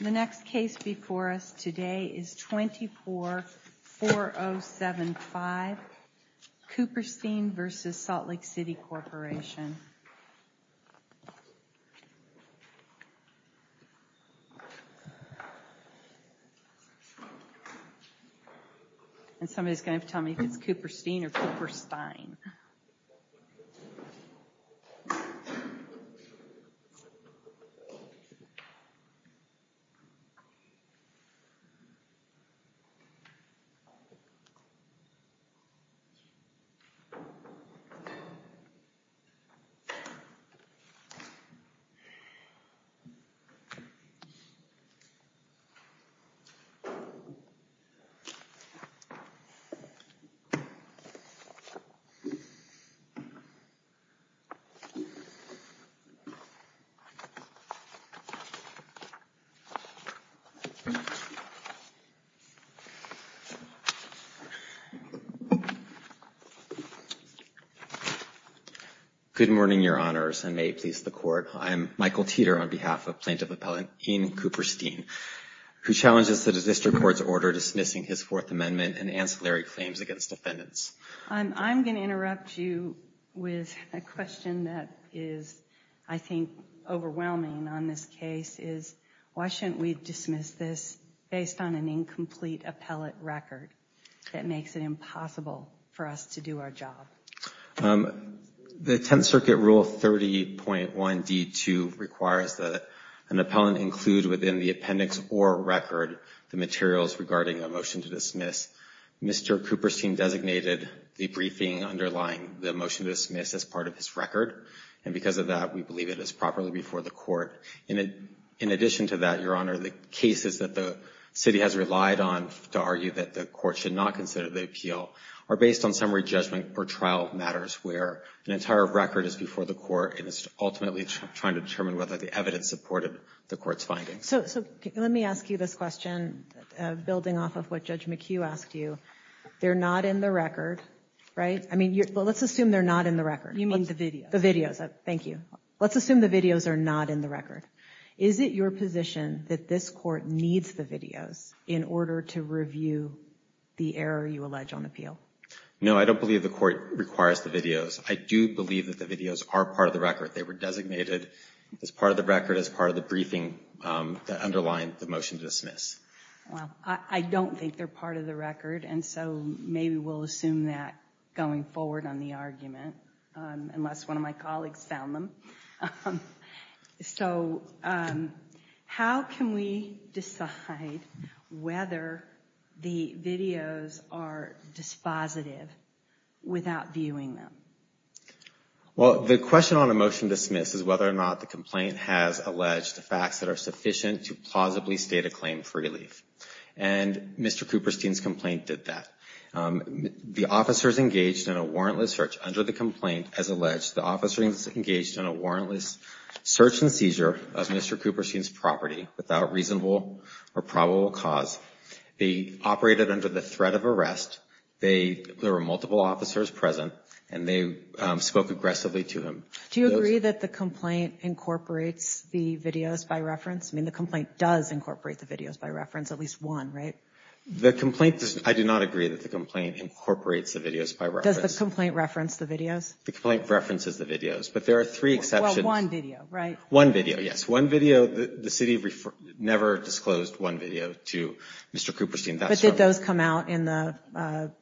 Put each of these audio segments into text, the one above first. The next case before us today is 24-4075 Cooperstein v. Salt Lake City Corporation and somebody's going to tell me if it's Cooperstein or Cooperstine. Good morning, Your Honors, and may it please the Court, I am Michael Teeter on behalf of Plaintiff Appellant Ian Cooperstein, who challenges the district court's order dismissing his Fourth Amendment and ancillary claims against defendants. I'm going to interrupt you with a question that is, I think, overwhelming on this case is why shouldn't we dismiss this based on an incomplete appellate record that makes it impossible for us to do our job? The Tenth Circuit Rule 30.1d.2 requires that an appellant include within the appendix or record the materials regarding a motion to dismiss. Mr. Cooperstein designated the briefing underlying the motion to dismiss as part of his record and because of that, we believe it is properly before the court. In addition to that, Your Honor, the cases that the city has relied on to argue that the court should not consider the appeal are based on summary judgment or trial matters where an entire record is before the court and is ultimately trying to determine whether the evidence supported the court's findings. So let me ask you this question, building off of what Judge McHugh asked you. They're not in the record, right? I mean, let's assume they're not in the record. You mean the videos? The videos. Thank you. Let's assume the videos are not in the record. Is it your position that this court needs the videos in order to review the error you allege on appeal? No, I don't believe the court requires the videos. I do believe that the videos are part of the record. They were designated as part of the record as part of the briefing that underlined the motion to dismiss. I don't think they're part of the record, and so maybe we'll assume that going forward on the argument, unless one of my colleagues found them. So, how can we decide whether the videos are dispositive without viewing them? Well, the question on a motion to dismiss is whether or not the complaint has alleged facts that are sufficient to plausibly state a claim for relief. And Mr. Cooperstein's complaint did that. The officers engaged in a warrantless search under the complaint has alleged the officers being engaged in a warrantless search and seizure of Mr. Cooperstein's property without reasonable or probable cause. They operated under the threat of arrest, there were multiple officers present, and they spoke aggressively to him. Do you agree that the complaint incorporates the videos by reference? I mean, the complaint does incorporate the videos by reference, at least one, right? The complaint, I do not agree that the complaint incorporates the videos by reference. Does the complaint reference the videos? The complaint references the videos, but there are three exceptions. Well, one video, right? One video, yes. One video, the city never disclosed one video to Mr. Cooperstein. But did those come out in the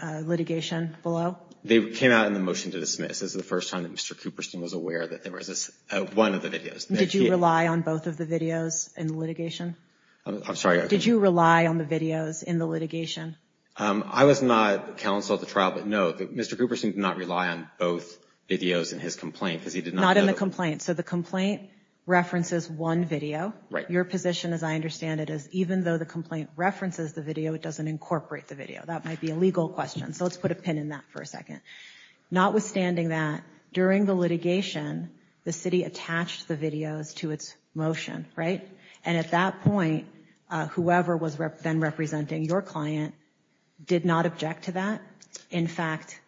litigation below? They came out in the motion to dismiss. This is the first time that Mr. Cooperstein was aware that there was one of the videos. Did you rely on both of the videos in the litigation? I'm sorry? Did you rely on the videos in the litigation? I was not counsel at the trial, but no, Mr. Cooperstein did not rely on both videos in his complaint, because he did not know. Not in the complaint. So the complaint references one video. Right. Your position, as I understand it, is even though the complaint references the video, it doesn't incorporate the video. That might be a legal question. So let's put a pin in that for a second. Notwithstanding that, during the litigation, the city attached the videos to its motion, right? And at that point, whoever was then representing your client did not object to that. In fact,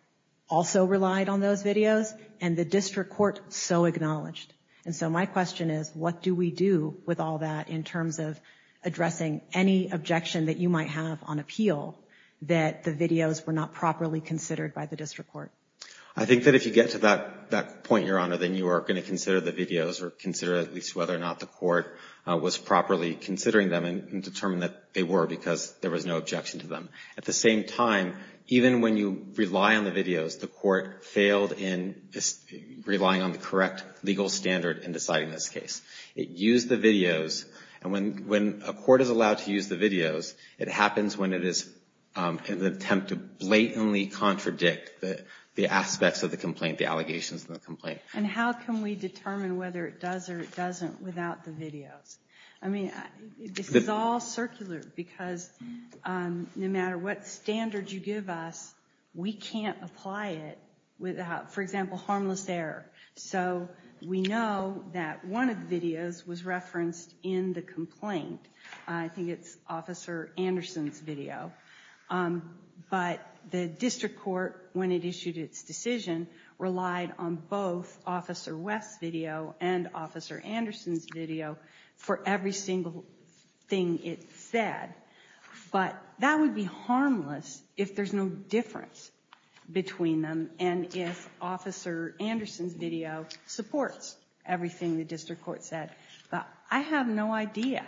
also relied on those videos, and the district court so acknowledged. And so my question is, what do we do with all that in terms of addressing any objection that you might have on appeal that the videos were not properly considered by the district court? I think that if you get to that point, Your Honor, then you are going to consider the videos or consider at least whether or not the court was properly considering them and determine that they were, because there was no objection to them. At the same time, even when you rely on the videos, the court failed in relying on the correct legal standard in deciding this case. It used the videos. And when a court is allowed to use the videos, it happens when it is in an attempt to blatantly contradict the aspects of the complaint, the allegations in the complaint. And how can we determine whether it does or it doesn't without the videos? I mean, this is all circular, because no matter what standard you give us, we can't apply it without, for example, harmless error. So we know that one of the videos was referenced in the complaint. I think it's Officer Anderson's video. But the district court, when it issued its decision, relied on both Officer West's video and Officer Anderson's video for every single thing it said. But that would be harmless if there's no difference between them and if Officer Anderson's video supports everything the district court said. But I have no idea,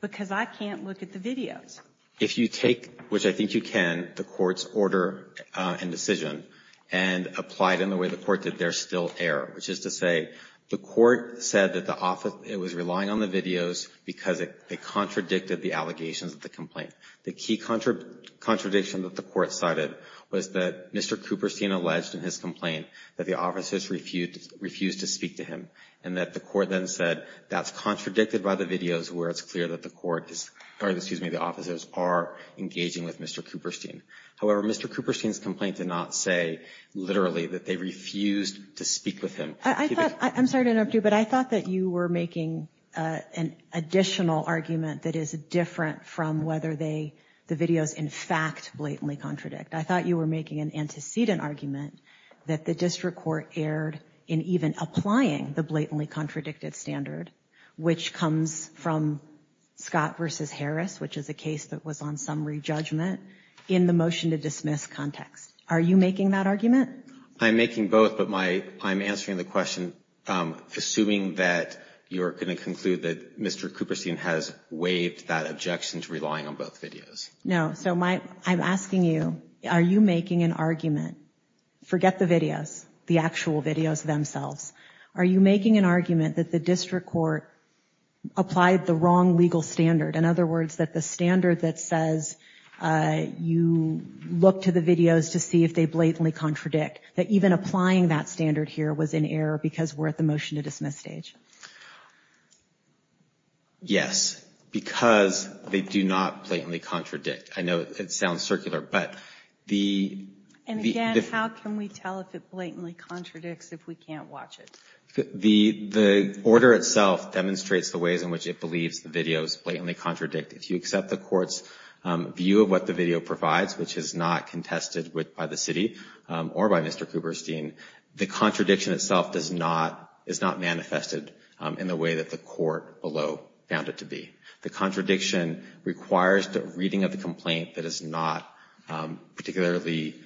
because I can't look at the videos. If you take, which I think you can, the court's order and decision, and apply it in the way the court did, there's still error, which is to say, the court said that it was relying on the videos because it contradicted the allegations of the complaint. The key contradiction that the court cited was that Mr. Cooperstein alleged in his complaint that the officers refused to speak to him, and that the court then said that's contradicted by the videos where it's clear that the officers are engaging with Mr. Cooperstein. However, Mr. Cooperstein's complaint did not say, literally, that they refused to speak with him. I'm sorry to interrupt you, but I thought that you were making an additional argument that is different from whether the videos, in fact, blatantly contradict. I thought you were making an antecedent argument that the district court erred in even applying the blatantly contradicted standard, which comes from Scott v. Harris, which is a case that was on summary judgment, in the motion to dismiss context. Are you making that argument? I'm making both, but I'm answering the question, assuming that you're going to conclude that Mr. Cooperstein has waived that objection to relying on both videos. No, so I'm asking you, are you making an argument, forget the videos, the actual videos themselves, are you making an argument that the district court applied the wrong legal standard? In other words, that the standard that says you look to the videos to see if they blatantly contradict, that even applying that standard here was in error because we're at the motion to dismiss stage? Yes, because they do not blatantly contradict. I know it sounds circular, but the... How can we tell if it blatantly contradicts if we can't watch it? The order itself demonstrates the ways in which it believes the videos blatantly contradict. If you accept the court's view of what the video provides, which is not contested by the city or by Mr. Cooperstein, the contradiction itself is not manifested in the way that the court below found it to be. The contradiction requires the reading of the complaint that is not particularly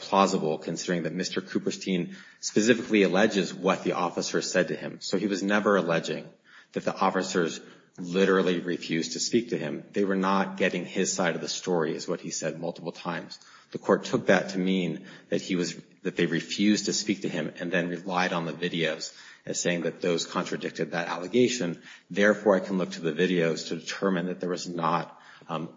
plausible considering that Mr. Cooperstein specifically alleges what the officer said to him. So he was never alleging that the officers literally refused to speak to him. They were not getting his side of the story is what he said multiple times. The court took that to mean that he was, that they refused to speak to him and then relied on the videos as saying that those contradicted that allegation. Therefore, I can look to the videos to determine that there was not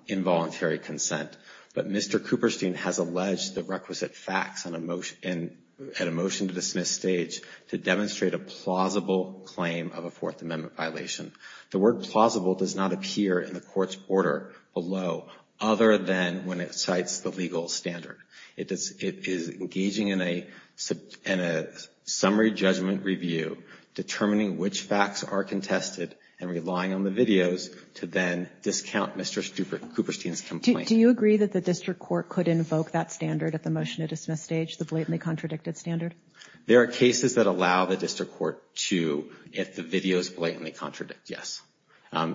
involuntary consent. But Mr. Cooperstein has alleged the requisite facts and a motion to dismiss stage to demonstrate a plausible claim of a Fourth Amendment violation. The word plausible does not appear in the court's order below other than when it cites the legal standard. It is engaging in a summary judgment review, determining which facts are contested and relying on the videos to then discount Mr. Cooperstein's complaint. Do you agree that the district court could invoke that standard at the motion to dismiss stage, the blatantly contradicted standard? There are cases that allow the district court to if the videos blatantly contradict. Yes,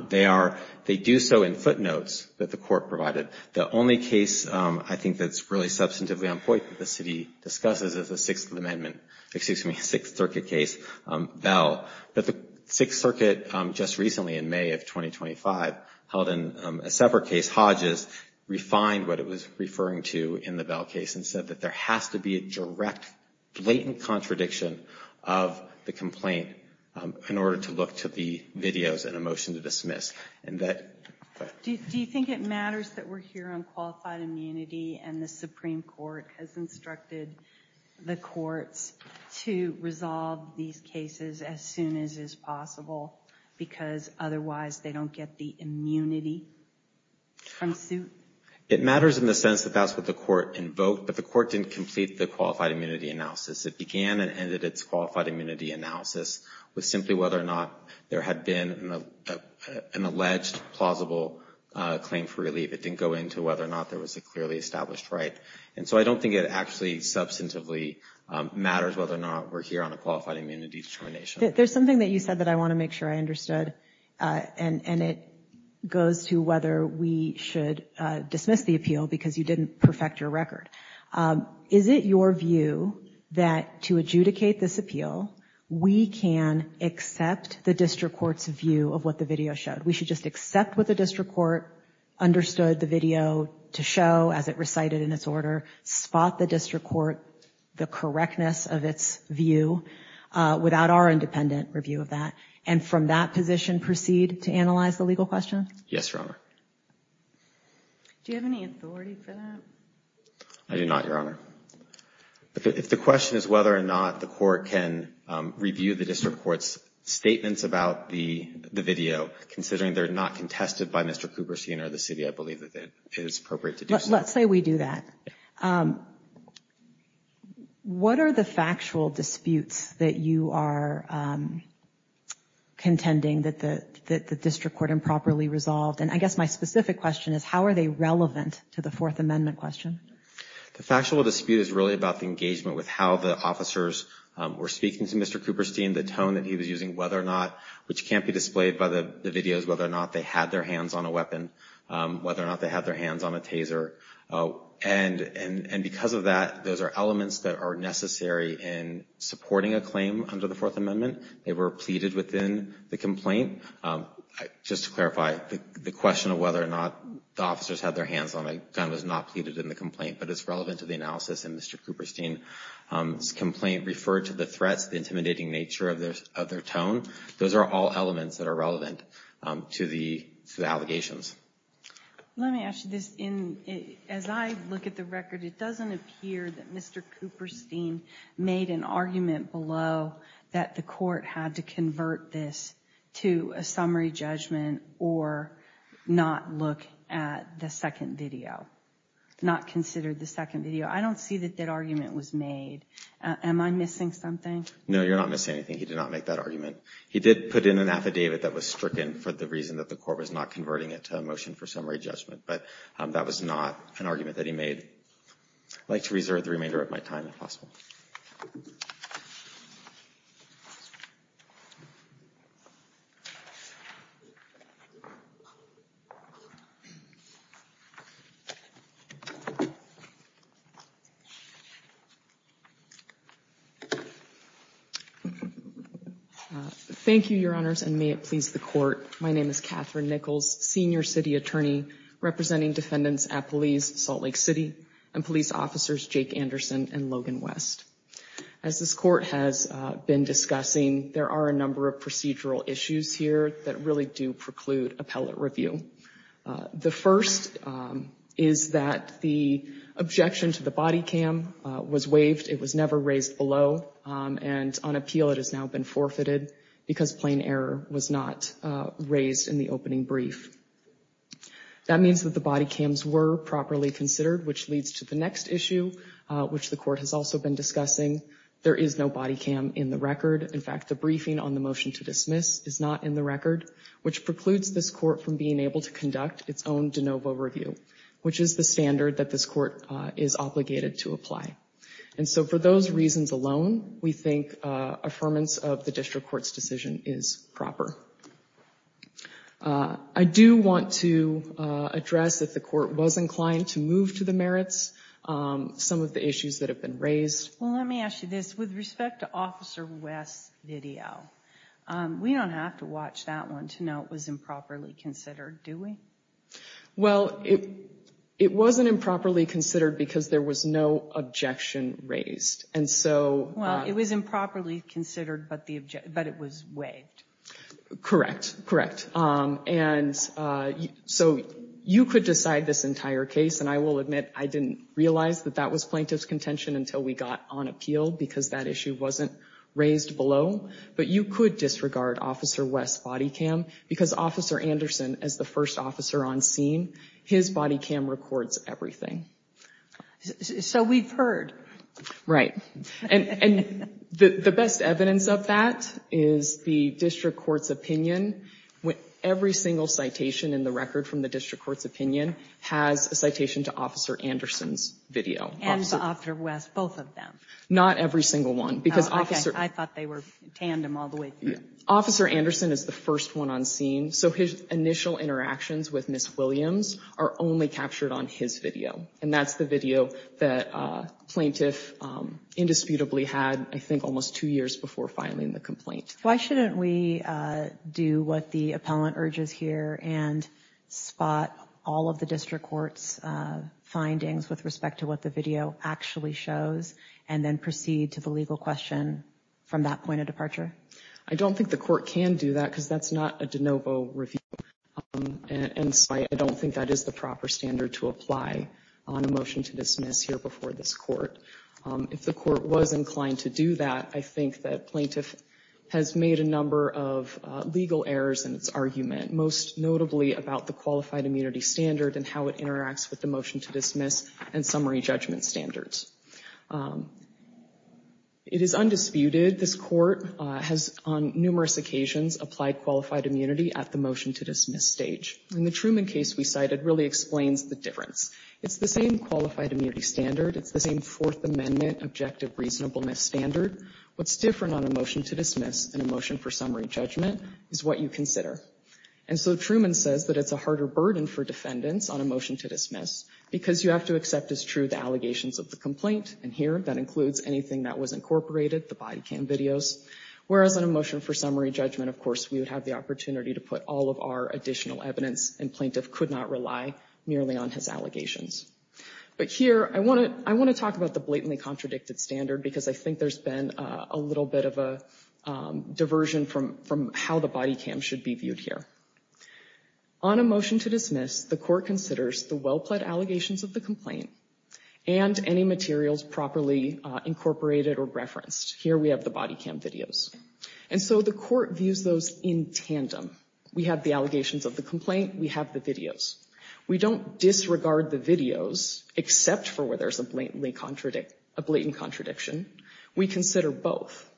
they are. They do so in footnotes that the court provided. The only case I think that's really substantively on point that the city discusses is the Sixth Amendment, excuse me, Sixth Circuit case, Bell. But the Sixth Circuit just recently in May of 2025 held a separate case, Hodges, refined what it was referring to in the Bell case and said that there has to be a direct blatant contradiction of the complaint in order to look to the videos and a motion to dismiss. Do you think it matters that we're here on qualified immunity and the Supreme Court has instructed the courts to resolve these cases as soon as is possible because otherwise they don't get the immunity from suit? It matters in the sense that that's what the court invoked, but the court didn't complete the qualified immunity analysis. It began and ended its qualified immunity analysis with simply whether or not there had been an alleged plausible claim for relief. It didn't go into whether or not there was a clearly established right. And so I don't think it actually substantively matters whether or not we're here on a qualified immunity determination. There's something that you said that I want to make sure I understood, and it goes to whether we should dismiss the appeal because you didn't perfect your record. Is it your view that to adjudicate this appeal, we can accept the district court's view of what the video showed? We should just accept what the district court understood the video to show as it recited in its order, spot the district court, the correctness of its view without our independent review of that, and from that position proceed to analyze the legal question? Yes, Your Honor. Do you have any authority for that? I do not, Your Honor. If the question is whether or not the court can review the district court's statements about the video, considering they're not contested by Mr. Cooperstein or the city, I believe that it is appropriate to do so. Let's say we do that. What are the factual disputes that you are contending that the district court improperly resolved? I guess my specific question is how are they relevant to the Fourth Amendment question? The factual dispute is really about the engagement with how the officers were speaking to Mr. Cooperstein, the tone that he was using, whether or not, which can't be displayed by the videos, whether or not they had their hands on a weapon, whether or not they had their hands on a taser. Because of that, those are elements that are necessary in supporting a claim under the Fourth Amendment. They were pleaded within the complaint. Just to clarify, the question of whether or not the officers had their hands on a gun was not pleaded in the complaint, but it's relevant to the analysis, and Mr. Cooperstein's complaint referred to the threats, the intimidating nature of their tone. Those are all elements that are relevant to the allegations. Let me ask you this. As I look at the record, it doesn't appear that Mr. Cooperstein made an argument below that the court had to convert this to a summary judgment or not look at the second video, not consider the second video. I don't see that that argument was made. Am I missing something? No, you're not missing anything. He did not make that argument. He did put in an affidavit that was stricken for the reason that the court was not converting it to a motion for summary judgment, but that was not an argument that he made. I'd like to reserve the remainder of my time, if possible. Thank you, Your Honors, and may it please the Court. My name is Catherine Nichols, Senior City Attorney representing defendants at Police Salt Lake City and Police Officers Jake Anderson and Logan West. As this Court has been discussing, there are a number of procedural issues here that really do preclude appellate review. The first is that the objection to the body cam was waived. It was never raised below, and on appeal it has now been forfeited because plain error was not raised in the opening brief. That means that the body cams were properly considered, which leads to the next issue, which the Court has also been discussing. There is no body cam in the record. In fact, the briefing on the motion to dismiss is not in the record, which precludes this Court from being able to conduct its own de novo review, which is the standard that this Court is obligated to apply. And so for those reasons alone, we think affirmance of the district court's decision is proper. I do want to address, if the Court was inclined to move to the merits, some of the issues that have been raised. Well, let me ask you this. With respect to Officer West's video, we don't have to watch that one to know it was improperly considered, do we? Well, it wasn't improperly considered because there was no objection raised. And so... Well, it was improperly considered, but it was waived. Correct, correct. And so you could decide this entire case, and I will admit I didn't realize that that was plaintiff's contention until we got on appeal because that issue wasn't raised below. But you could disregard Officer West's body cam because Officer Anderson, as the first officer on scene, his body cam records everything. So we've heard. Right. And the best evidence of that is the district court's opinion. Every single citation in the record from the district court's opinion has a citation to Officer Anderson's video. And Officer West's, both of them? Not every single one. Oh, okay. I thought they were tandem all the way through. Officer Anderson is the first one on scene, so his initial interactions with Ms. Williams are only captured on his video. And that's the video that plaintiff indisputably had, I think, almost two years before filing the complaint. Why shouldn't we do what the appellant urges here and spot all of the district court's findings with respect to what the video actually shows, and then proceed to the legal question from that point of departure? I don't think the court can do that because that's not a de novo review, and so I don't think that is the proper standard to apply on a motion to dismiss here before this court. If the court was inclined to do that, I think that plaintiff has made a number of legal errors in its argument, most notably about the qualified immunity standard and how it interacts with the motion to dismiss and summary judgment standards. It is undisputed this court has, on numerous occasions, applied qualified immunity at the motion to dismiss stage. And the Truman case we cited really explains the difference. It's the same qualified immunity standard. It's the same Fourth Amendment objective reasonableness standard. What's different on a motion to dismiss than a motion for summary judgment is what you consider. And so Truman says that it's a harder burden for defendants on a motion to dismiss because you have to accept as true the allegations of the complaint, and here that includes anything that was incorporated, the body cam videos. Whereas on a motion for summary judgment, of course, we would have the opportunity to put all of our additional evidence, and plaintiff could not rely merely on his allegations. But here, I want to talk about the blatantly contradicted standard because I think there's been a little bit of a diversion from how the body cam should be viewed here. On a motion to dismiss, the court considers the well-plaid allegations of the complaint and any materials properly incorporated or referenced. Here we have the body cam videos. And so the court views those in tandem. We have the allegations of the complaint. We have the videos. We don't disregard the videos except for where there's a blatant contradiction. We consider both.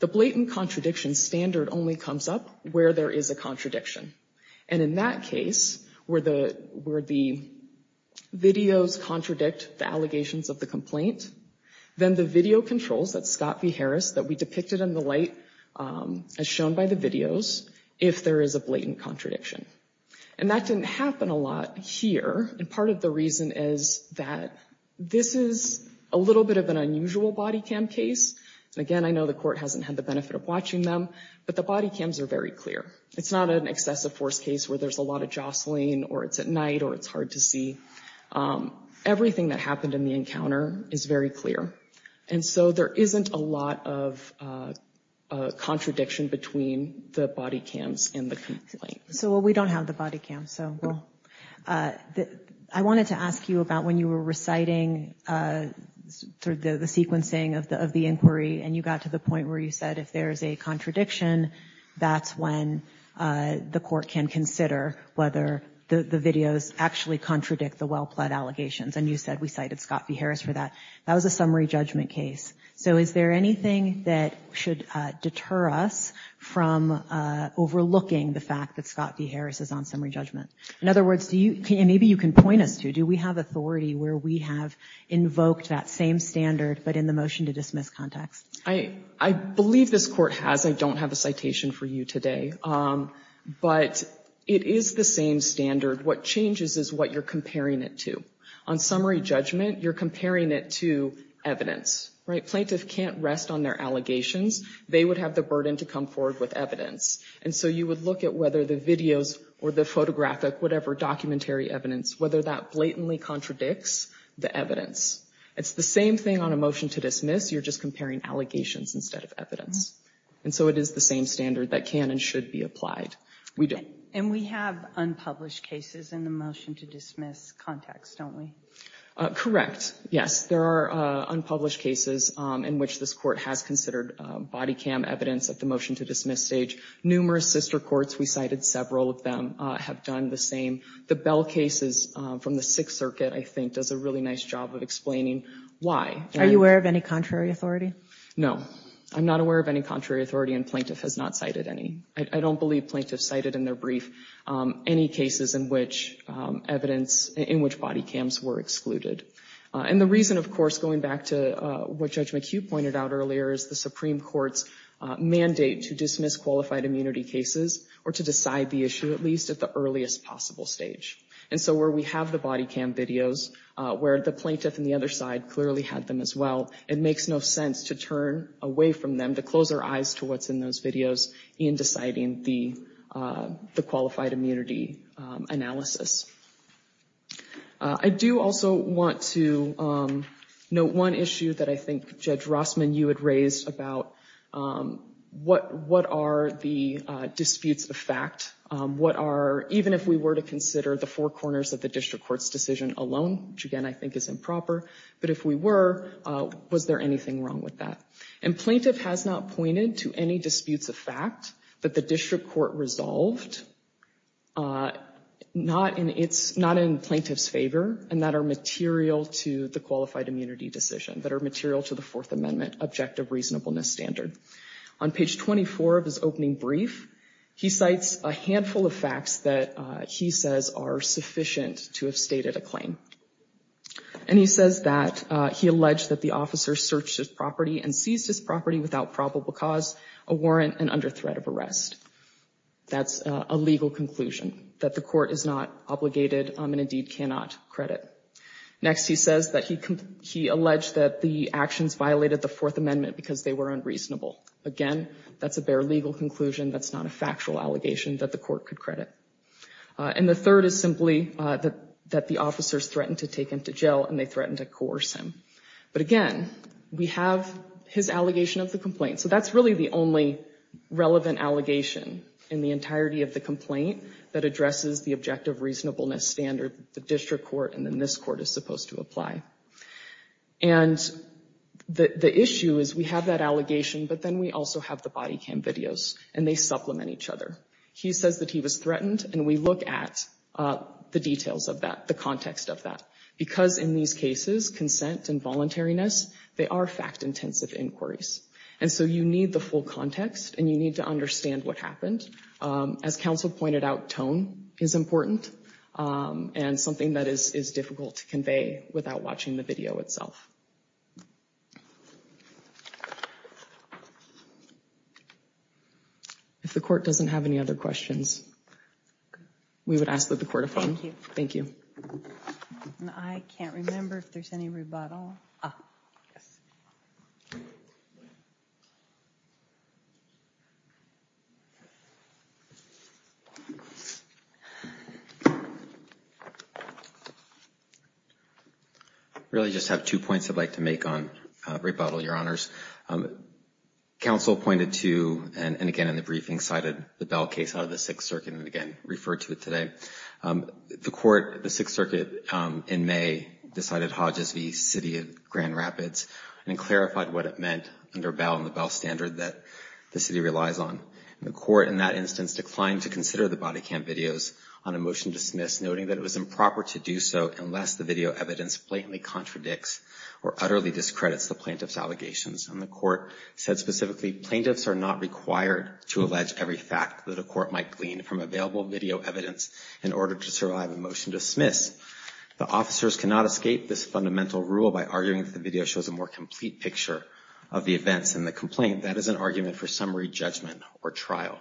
The blatant contradiction standard only comes up where there is a contradiction. And in that case, where the videos contradict the allegations of the complaint, then the video controls, that's Scott v. Harris, that we depicted in the light as shown by the videos, if there is a blatant contradiction. And that didn't happen a lot here, and part of the reason is that this is a little bit of an unusual body cam case. And again, I know the court hasn't had the benefit of watching them, but the body cams are very clear. It's not an excessive force case where there's a lot of jostling or it's at night or it's hard to see. Everything that happened in the encounter is very clear. And so there isn't a lot of contradiction between the body cams and the complaint. So we don't have the body cams. I wanted to ask you about when you were reciting through the sequencing of the inquiry and you got to the point where you said if there is a contradiction, that's when the court can consider whether the videos actually contradict the well-plead allegations. And you said we cited Scott v. Harris for that. That was a summary judgment case. So is there anything that should deter us from overlooking the fact that Scott v. Harris is on summary judgment? In other words, and maybe you can point us to, do we have authority where we have invoked that same standard but in the motion to dismiss context? I believe this court has. I don't have a citation for you today. But it is the same standard. What changes is what you're comparing it to. On summary judgment, you're comparing it to evidence. Plaintiffs can't rest on their allegations. They would have the burden to come forward with evidence. And so you would look at whether the videos or the photographic, whatever, documentary evidence, whether that blatantly contradicts the evidence. It's the same thing on a motion to dismiss. You're just comparing allegations instead of evidence. And so it is the same standard that can and should be applied. We do. We have unpublished cases in the motion to dismiss context, don't we? Correct. Yes. There are unpublished cases in which this court has considered body cam evidence at the motion to dismiss stage. Numerous sister courts, we cited several of them, have done the same. The Bell cases from the Sixth Circuit, I think, does a really nice job of explaining why. Are you aware of any contrary authority? No. I'm not aware of any contrary authority and plaintiff has not cited any. I don't believe plaintiffs cited in their brief any cases in which evidence, in which body cams were excluded. And the reason, of course, going back to what Judge McHugh pointed out earlier, is the Supreme Court's mandate to dismiss qualified immunity cases or to decide the issue, at least at the earliest possible stage. And so where we have the body cam videos, where the plaintiff on the other side clearly had them as well, it makes no sense to turn away from them, to close our eyes to what's in those videos in deciding the qualified immunity analysis. I do also want to note one issue that I think Judge Rossman, you had raised about what are the disputes of fact? What are, even if we were to consider the four corners of the district court's decision alone, which again, I think is improper, but if we were, was there anything wrong with that? And plaintiff has not pointed to any disputes of fact that the district court resolved, not in plaintiff's favor, and that are material to the qualified immunity decision, that are material to the Fourth Amendment objective reasonableness standard. On page 24 of his opening brief, he cites a handful of facts that he says are sufficient to have stated a claim. And he says that he alleged that the officer searched his property and seized his property without probable cause, a warrant, and under threat of arrest. That's a legal conclusion that the court is not obligated and indeed cannot credit. Next he says that he alleged that the actions violated the Fourth Amendment because they were unreasonable. Again, that's a bare legal conclusion. That's not a factual allegation that the court could credit. And the third is simply that the officers threatened to take him to jail and they threatened to coerce him. But again, we have his allegation of the complaint. So that's really the only relevant allegation in the entirety of the complaint that addresses the objective reasonableness standard that the district court and then this court is supposed to apply. And the issue is we have that allegation, but then we also have the body cam videos and they supplement each other. He says that he was threatened and we look at the details of that, the context of that. Because in these cases, consent and voluntariness, they are fact-intensive inquiries. And so you need the full context and you need to understand what happened. As counsel pointed out, tone is important and something that is difficult to convey without watching the video itself. If the court doesn't have any other questions, we would ask that the court affirm. Thank you. And I can't remember if there's any rebuttal. I really just have two points I'd like to make on rebuttal, Your Honors. Counsel pointed to, and again in the briefing, cited the Bell case out of the Sixth Circuit and again referred to it today. The court, the Sixth Circuit in May decided Hodges v. City of Grand Rapids and clarified what it meant under Bell and the Bell standard that the city relies on. The court in that instance declined to consider the body cam videos on a motion dismissed noting that it was improper to do so unless the video evidence blatantly contradicts or utterly discredits the plaintiff's allegations. And the court said specifically, plaintiffs are not required to allege every fact that the court might glean from available video evidence in order to survive a motion dismissed. The officers cannot escape this fundamental rule by arguing that the video shows a more complete picture of the events in the complaint. That is an argument for summary judgment or trial.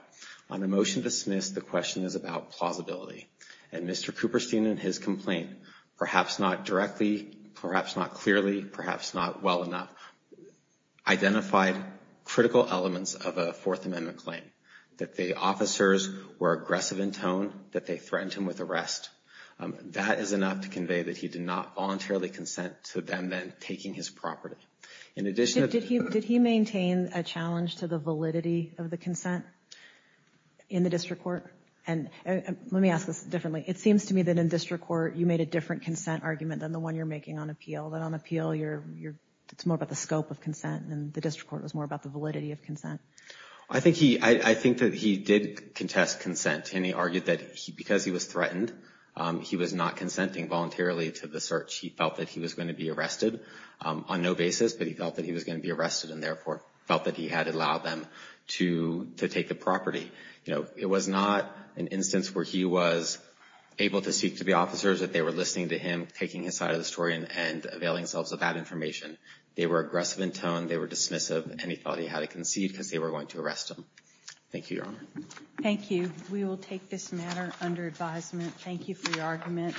On a motion dismissed, the question is about plausibility. And Mr. Cooperstein in his complaint, perhaps not directly, perhaps not clearly, perhaps not well enough, identified critical elements of a Fourth Amendment claim. That the officers were aggressive in tone, that they threatened him with arrest. That is enough to convey that he did not voluntarily consent to them then taking his property. In addition to... Did he maintain a challenge to the validity of the consent in the district court? And let me ask this differently. It seems to me that in district court you made a different consent argument than the one you're making on appeal. That on appeal, it's more about the scope of consent and the district court was more about the validity of consent. I think that he did contest consent and he argued that because he was threatened, he was not consenting voluntarily to the search. He felt that he was going to be arrested on no basis, but he felt that he was going to be arrested and therefore felt that he had allowed them to take the property. It was not an instance where he was able to speak to the officers, that they were listening to him, taking his side of the story, and availing themselves of that information. They were aggressive in tone, they were dismissive, and he thought he had to concede because they were going to arrest him. Thank you, Your Honor. Thank you. We will take this matter under advisement. Thank you for your argument.